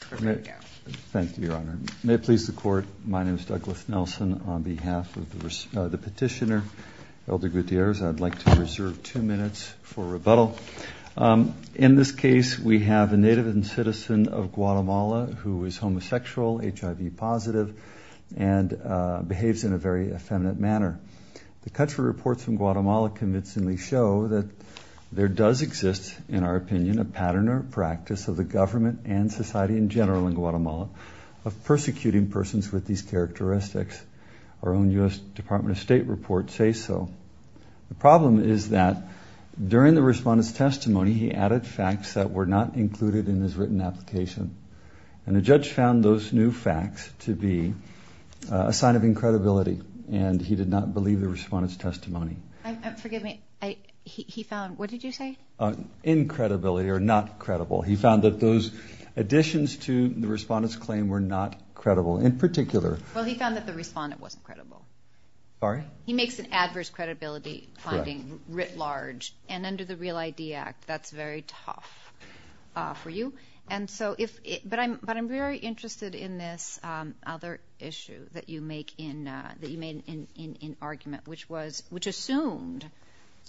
Thank you, Your Honor. May it please the Court, my name is Douglas Nelson. On behalf of the petitioner, Elder Gutierrez, I'd like to reserve two minutes for rebuttal. In this case, we have a native and citizen of Guatemala who is homosexual, HIV positive, and behaves in a very effeminate manner. The country reports from Guatemala convincingly show that there does exist, in our opinion, a pattern or practice of the government and society in general in Guatemala of persecuting persons with these characteristics. Our own U.S. Department of State reports say so. The problem is that during the respondent's testimony, he added facts that were not included in his written application. And the judge found those new facts to be a sign of incredibility, and he did not believe the respondent's testimony. Forgive me, he found, what did you say? Incredibility or not credible. He found that those additions to the respondent's claim were not credible. In particular... Well, he found that the respondent wasn't credible. Sorry? He makes an adverse credibility finding writ large, and under the Real ID Act, that's very tough for you. But I'm very interested in this other issue that you made in argument, which assumed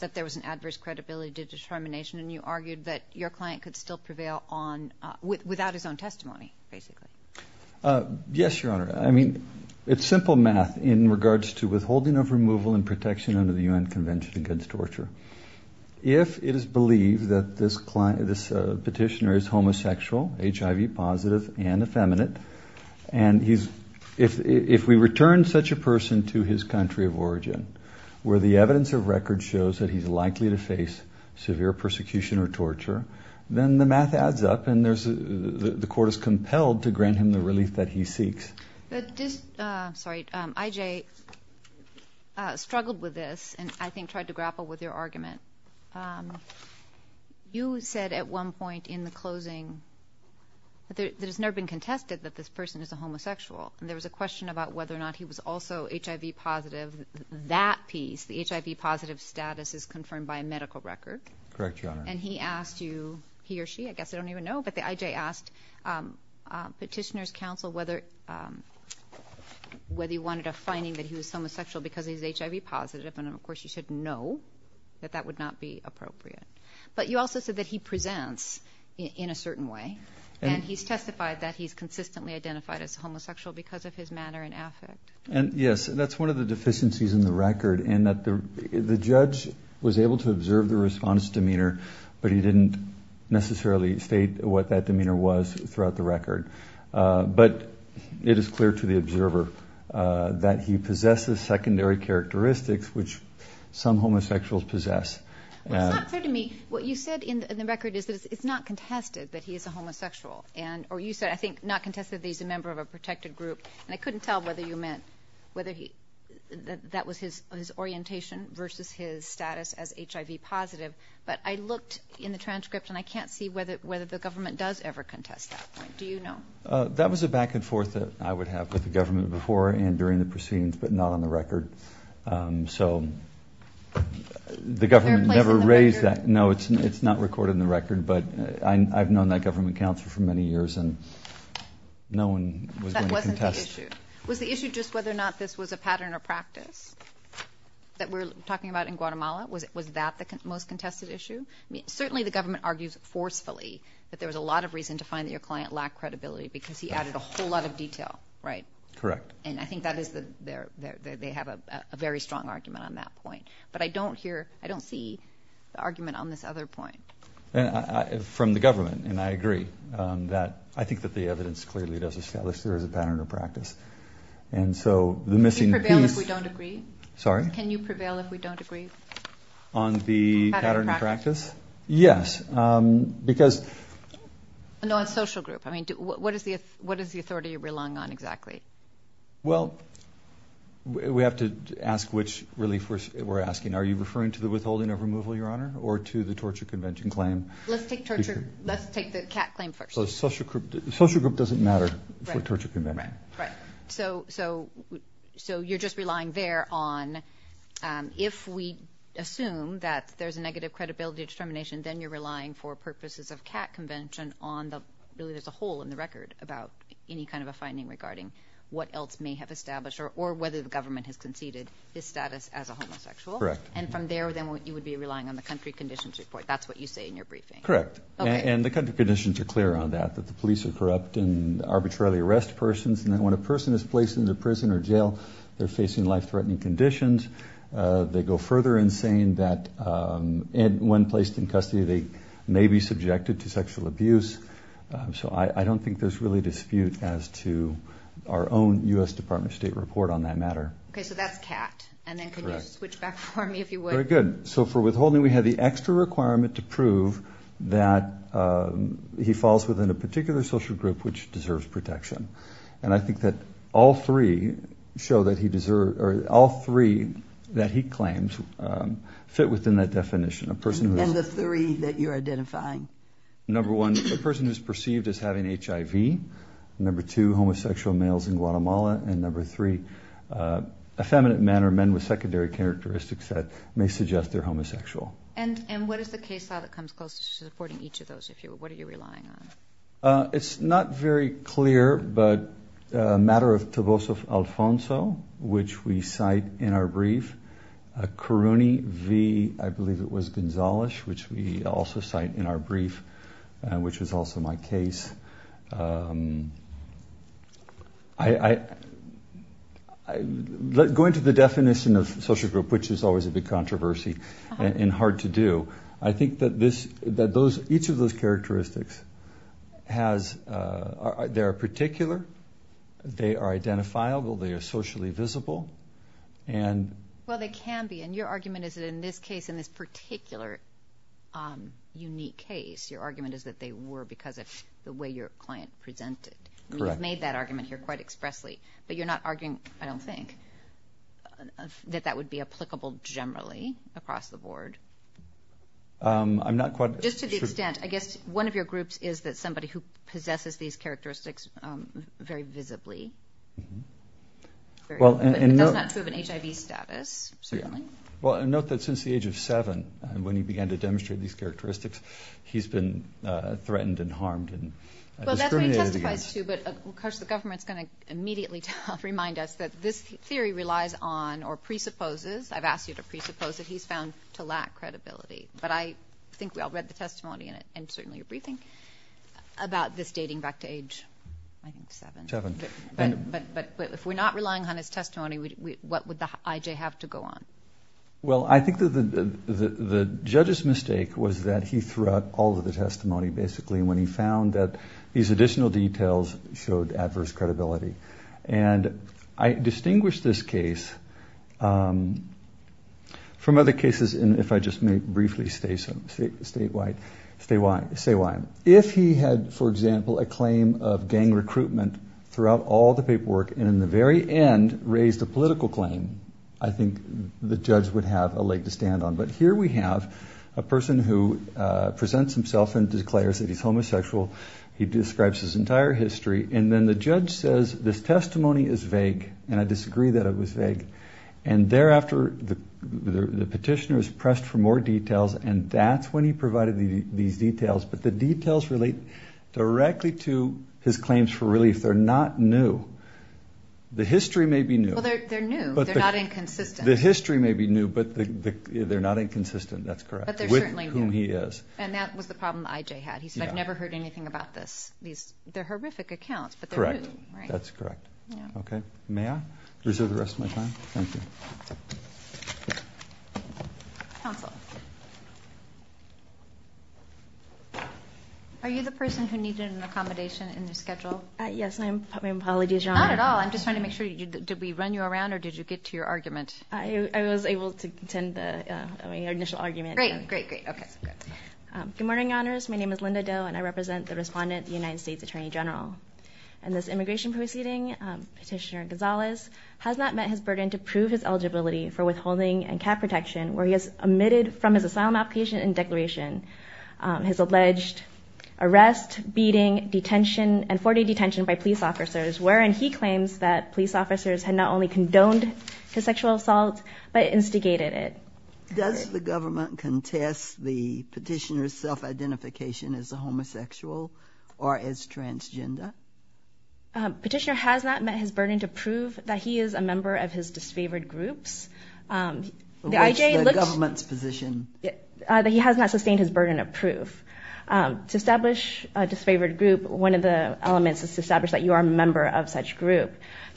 that there was an adverse credibility determination, and you argued that your client could still prevail without his own testimony, basically. Yes, Your Honor. I mean, it's simple math in regards to withholding of removal and protection under the U.N. Convention against Torture. If it is believed that this petitioner is homosexual, HIV positive, and effeminate, and if we return such a person to his country of origin, where the evidence of record shows that he's likely to face severe persecution or torture, then the math adds up, and the court is compelled to grant him the relief that he seeks. Sorry, I.J. struggled with this, and I think tried to grapple with your argument. You said at one point in the closing that it has never been contested that this person is a homosexual, and there was a question about whether or not he was also HIV positive. That piece, the HIV positive status, is confirmed by a medical record. Correct, Your Honor. And he asked you, he or she, I guess, I don't even know, but the I.J. asked petitioner's counsel whether he wanted a finding that he was homosexual because he's HIV positive, and, of course, you said no, that that would not be appropriate. But you also said that he presents in a certain way, and he's testified that he's consistently identified as homosexual because of his manner and affect. And, yes, that's one of the deficiencies in the record, in that the judge was able to observe the response demeanor, but he didn't necessarily state what that demeanor was throughout the record. But it is clear to the observer that he possesses secondary characteristics, which some homosexuals possess. It's not clear to me. What you said in the record is that it's not contested that he is a homosexual, or you said, I think, not contested that he's a member of a protected group. And I couldn't tell whether you meant whether that was his orientation versus his status as HIV positive. But I looked in the transcript, and I can't see whether the government does ever contest that. Do you know? That was a back and forth that I would have with the government before and during the proceedings, but not on the record. So the government never raised that. Is there a place in the record? No, it's not recorded in the record. But I've known that government counsel for many years, and no one was going to contest. That wasn't the issue. Was the issue just whether or not this was a pattern or practice that we're talking about in Guatemala? Was that the most contested issue? Certainly the government argues forcefully that there was a lot of reason to find that your client lacked credibility because he added a whole lot of detail, right? Correct. And I think that is the ‑‑ they have a very strong argument on that point. But I don't hear, I don't see the argument on this other point. From the government, and I agree. I think that the evidence clearly does establish there is a pattern or practice. And so the missing piece ‑‑ Can you prevail if we don't agree? Sorry? Can you prevail if we don't agree? On the pattern or practice? Yes. Because ‑‑ No, on social group. I mean, what is the authority you relung on exactly? Well, we have to ask which relief we're asking. Are you referring to the withholding of removal, Your Honor, or to the torture convention claim? Let's take the CAT claim first. Social group doesn't matter for torture convention. Right. So you're just relying there on if we assume that there's a negative credibility determination, then you're relying for purposes of CAT convention on the ‑‑ really there's a hole in the record about any kind of a finding regarding what else may have established or whether the government has conceded his status as a homosexual. Correct. And from there, then you would be relying on the country conditions report. That's what you say in your briefing. Correct. Okay. And the country conditions are clear on that, that the police are corrupt and arbitrarily arrest persons. And that when a person is placed into prison or jail, they're facing life‑threatening conditions. They go further in saying that when placed in custody, they may be subjected to sexual abuse. So I don't think there's really dispute as to our own U.S. Department of State report on that matter. Okay. So that's CAT. Correct. And then can you switch back for me, if you would? Very good. So for withholding, we have the extra requirement to prove that he falls within a particular social group which deserves protection. And I think that all three show that he deserves ‑‑ or all three that he claims fit within that definition. And the three that you're identifying. Number one, a person who's perceived as having HIV. Number two, homosexual males in Guatemala. And number three, effeminate men or men with secondary characteristics that may suggest they're homosexual. And what is the case file that comes closest to supporting each of those, if you will? What are you relying on? It's not very clear, but a matter of Toboso Alfonso, which we cite in our brief. Karuni V. I believe it was Gonzales, which we also cite in our brief, which is also my case. Going to the definition of social group, which is always a big controversy and hard to do, I think that each of those characteristics has ‑‑ they are particular. They are identifiable. They are socially visible. Well, they can be. And your argument is that in this case, in this particular unique case, your argument is that they were because of the way your client presented. Correct. You've made that argument here quite expressly. But you're not arguing, I don't think, that that would be applicable generally across the board? I'm not quite sure. Just to the extent, I guess one of your groups is that somebody who possesses these characteristics very visibly. That's not true of an HIV status, certainly. Well, note that since the age of seven, when he began to demonstrate these characteristics, he's been threatened and harmed and discriminated against. Well, that's what he testifies to. But, of course, the government is going to immediately remind us that this theory relies on or presupposes, I've asked you to presuppose it, he's found to lack credibility. But I think we all read the testimony in certainly your briefing about this dating back to age, I think, seven. Seven. But if we're not relying on his testimony, what would the IJ have to go on? Well, I think the judge's mistake was that he threw out all of the testimony, basically, when he found that these additional details showed adverse credibility. And I distinguish this case from other cases, and if I just may briefly state why. If he had, for example, a claim of gang recruitment throughout all the paperwork and in the very end raised a political claim, I think the judge would have a leg to stand on. But here we have a person who presents himself and declares that he's homosexual. He describes his entire history. And then the judge says this testimony is vague, and I disagree that it was vague. And thereafter, the petitioner is pressed for more details, and that's when he provided these details. But the details relate directly to his claims for relief. They're not new. The history may be new. Well, they're new. They're not inconsistent. The history may be new, but they're not inconsistent. That's correct. But they're certainly new. With whom he is. And that was the problem IJ had. He said, I've never heard anything about this. They're horrific accounts, but they're new. Correct. That's correct. Okay. May I reserve the rest of my time? Thank you. Counsel. Are you the person who needed an accommodation in your schedule? My apologies, Your Honor. Not at all. I'm just trying to make sure. Did we run you around, or did you get to your argument? I was able to attend the initial argument. Great, great, great. Okay. Good morning, Your Honors. My name is Linda Doe, and I represent the respondent, the United States Attorney General. In this immigration proceeding, Petitioner Gonzalez has not met his burden to prove his eligibility for withholding and cap protection, where he has omitted from his asylum application and declaration his alleged arrest, beating, detention, and 40-day detention by police officers, wherein he claims that police officers had not only condoned his sexual assault, but instigated it. Does the government contest the petitioner's self-identification as a homosexual or as transgender? Petitioner has not met his burden to prove that he is a member of his disfavored groups. What's the government's position? That he has not sustained his burden of proof. To establish a disfavored group, one of the elements is to establish that you are a member of such group.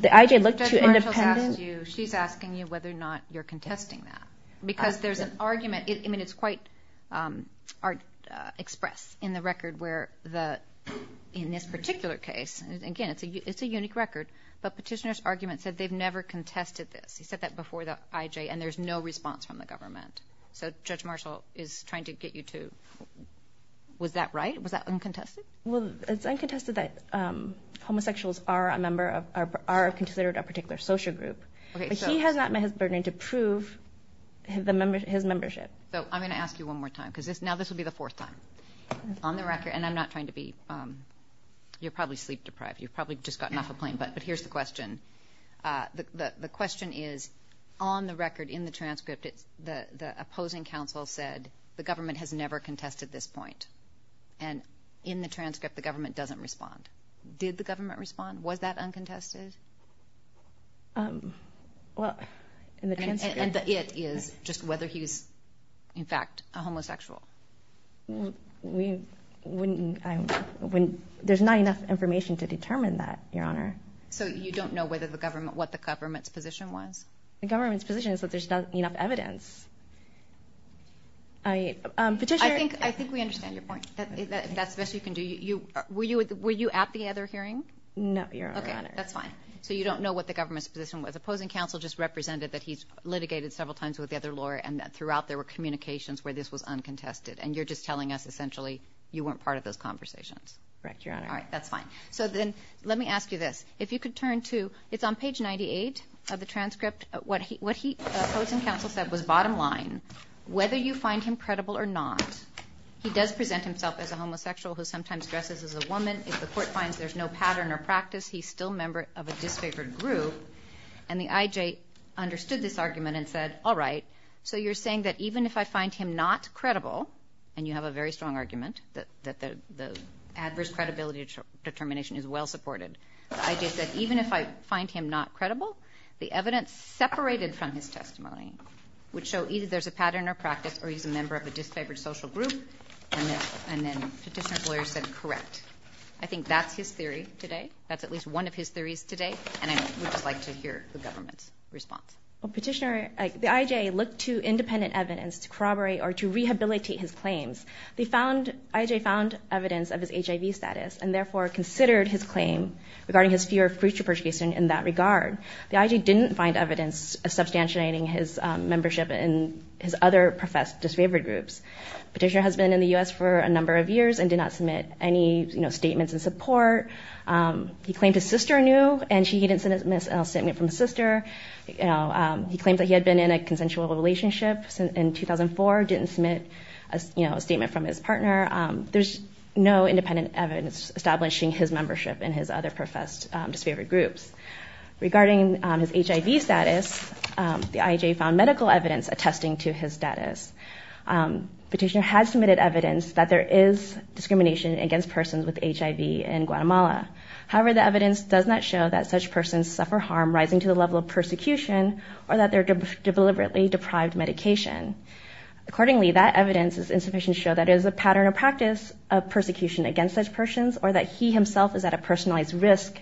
Judge Marshall's asking you whether or not you're contesting that, because there's an argument. I mean, it's quite expressed in the record where the, in this particular case, and again, it's a unique record, but Petitioner's argument said they've never contested this. He said that before the IJ, and there's no response from the government. So Judge Marshall is trying to get you to, was that right? Was that uncontested? Well, it's uncontested that homosexuals are a member of, are considered a particular social group. But he has not met his burden to prove his membership. So I'm going to ask you one more time, because now this will be the fourth time. On the record, and I'm not trying to be, you're probably sleep deprived. You've probably just gotten off a plane, but here's the question. The question is, on the record, in the transcript, the opposing counsel said the government has never contested this point. And in the transcript, the government doesn't respond. Did the government respond? Was that uncontested? Well, in the transcript. And the it is just whether he's, in fact, a homosexual. We wouldn't, I wouldn't, there's not enough information to determine that, Your Honor. So you don't know whether the government, what the government's position was? The government's position is that there's not enough evidence. I, Petitioner. I think, I think we understand your point. That's the best you can do. Were you at the other hearing? No, Your Honor. Okay, that's fine. So you don't know what the government's position was. Opposing counsel just represented that he's litigated several times with the other lawyer, and that throughout there were communications where this was uncontested. And you're just telling us, essentially, you weren't part of those conversations. Correct, Your Honor. All right, that's fine. So then, let me ask you this. If you could turn to, it's on page 98 of the transcript. What he, what he, opposing counsel said was, bottom line, whether you find him credible or not, he does present himself as a homosexual who sometimes dresses as a woman. If the court finds there's no pattern or practice, he's still a member of a disfavored group. And the IJ understood this argument and said, all right, so you're saying that even if I find him not credible, and you have a very strong argument, that the adverse credibility determination is well supported. The IJ said, even if I find him not credible, the evidence separated from his testimony would show either there's a pattern or practice or he's a member of a disfavored social group. And then Petitioner's lawyer said, correct. I think that's his theory today. That's at least one of his theories today. And I would just like to hear the government's response. Well, Petitioner, the IJ looked to independent evidence to corroborate or to rehabilitate his claims. They found, IJ found evidence of his HIV status and, therefore, considered his claim regarding his fear of future persecution in that regard. The IJ didn't find evidence of substantiating his membership in his other professed disfavored groups. Petitioner has been in the U.S. for a number of years and did not submit any statements in support. He claimed his sister knew, and he didn't submit a statement from his sister. He claimed that he had been in a consensual relationship in 2004, didn't submit a statement from his partner. There's no independent evidence establishing his membership in his other professed disfavored groups. Regarding his HIV status, the IJ found medical evidence attesting to his status. Petitioner has submitted evidence that there is discrimination against persons with HIV in Guatemala. However, the evidence does not show that such persons suffer harm rising to the level of persecution or that they're deliberately deprived medication. Accordingly, that evidence is insufficient to show that it is a pattern of practice of persecution against such persons or that he himself is at a personalized risk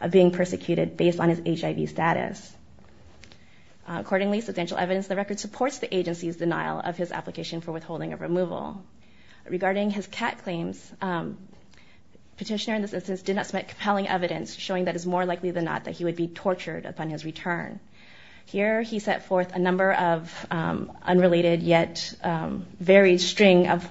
of being persecuted based on his HIV status. Accordingly, substantial evidence of the record supports the agency's denial of his application for withholding of removal. Regarding his cat claims, petitioner in this instance did not submit compelling evidence showing that it is more likely than not that he would be tortured upon his return. Here he set forth a number of unrelated yet varied string of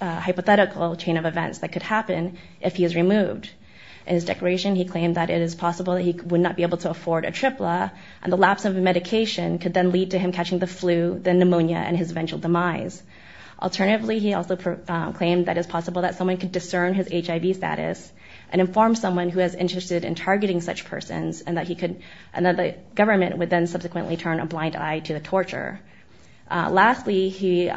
hypothetical chain of events that could happen if he is removed. In his declaration, he claimed that it is possible that he would not be able to afford a tripla and the lapse of medication could then lead to him catching the flu, then pneumonia, and his eventual demise. Alternatively, he also claimed that it is possible that someone could discern his HIV status and inform someone who is interested in targeting such persons and that the government would then subsequently turn a blind eye to the torture. Lastly, he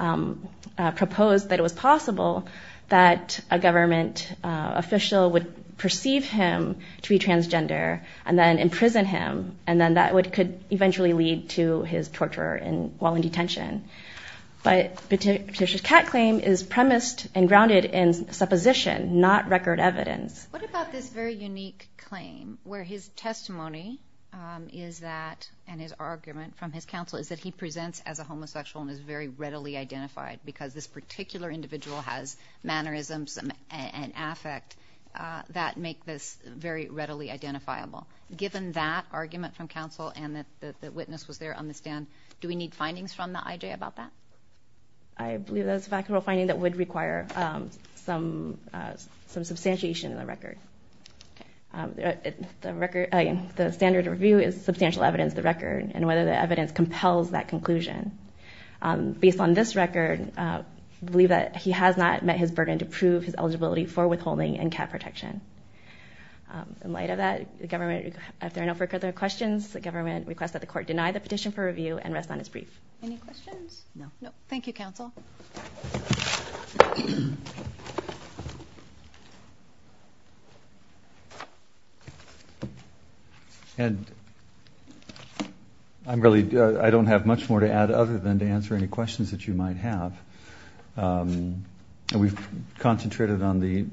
proposed that it was possible that a government official would perceive him to be transgender and then imprison him and then that could eventually lead to his torture while in detention. But petitioner's cat claim is premised and grounded in supposition, not record evidence. What about this very unique claim where his testimony is that, and his argument from his counsel, is that he presents as a homosexual and is very readily identified because this particular individual has mannerisms and affect that make this very readily identifiable. Given that argument from counsel and that the witness was there on the stand, do we need findings from the IJ about that? I believe that is a factual finding that would require some substantiation in the record. The standard review is substantial evidence of the record and whether the evidence compels that conclusion. Based on this record, I believe that he has not met his burden to prove his eligibility for withholding and cat protection. In light of that, if there are no further questions, the government requests that the court deny the petition for review and rest on its brief. Any questions? No. Thank you, counsel. And I don't have much more to add other than to answer any questions that you might have. We've concentrated on the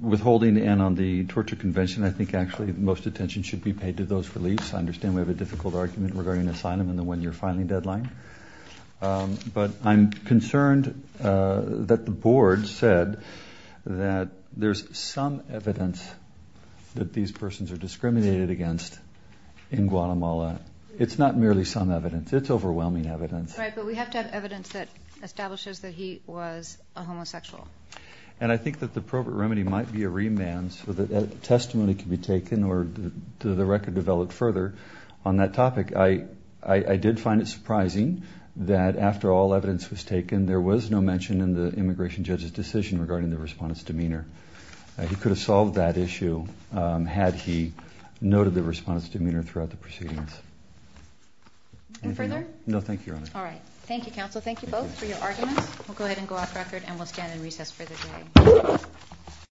withholding and on the torture convention. I think, actually, most attention should be paid to those reliefs. I understand we have a difficult argument regarding asylum and the one-year filing deadline. But I'm concerned that the board said that there's some evidence that these persons are discriminated against in Guatemala. It's not merely some evidence. It's overwhelming evidence. Right, but we have to have evidence that establishes that he was a homosexual. And I think that the appropriate remedy might be a remand so that testimony can be taken or the record developed further on that topic. I did find it surprising that, after all evidence was taken, there was no mention in the immigration judge's decision regarding the respondent's demeanor. He could have solved that issue had he noted the respondent's demeanor throughout the proceedings. Anything further? No, thank you, Your Honor. All right. Thank you, counsel. Thank you both for your arguments. We'll go ahead and go off record and we'll stand in recess for the day.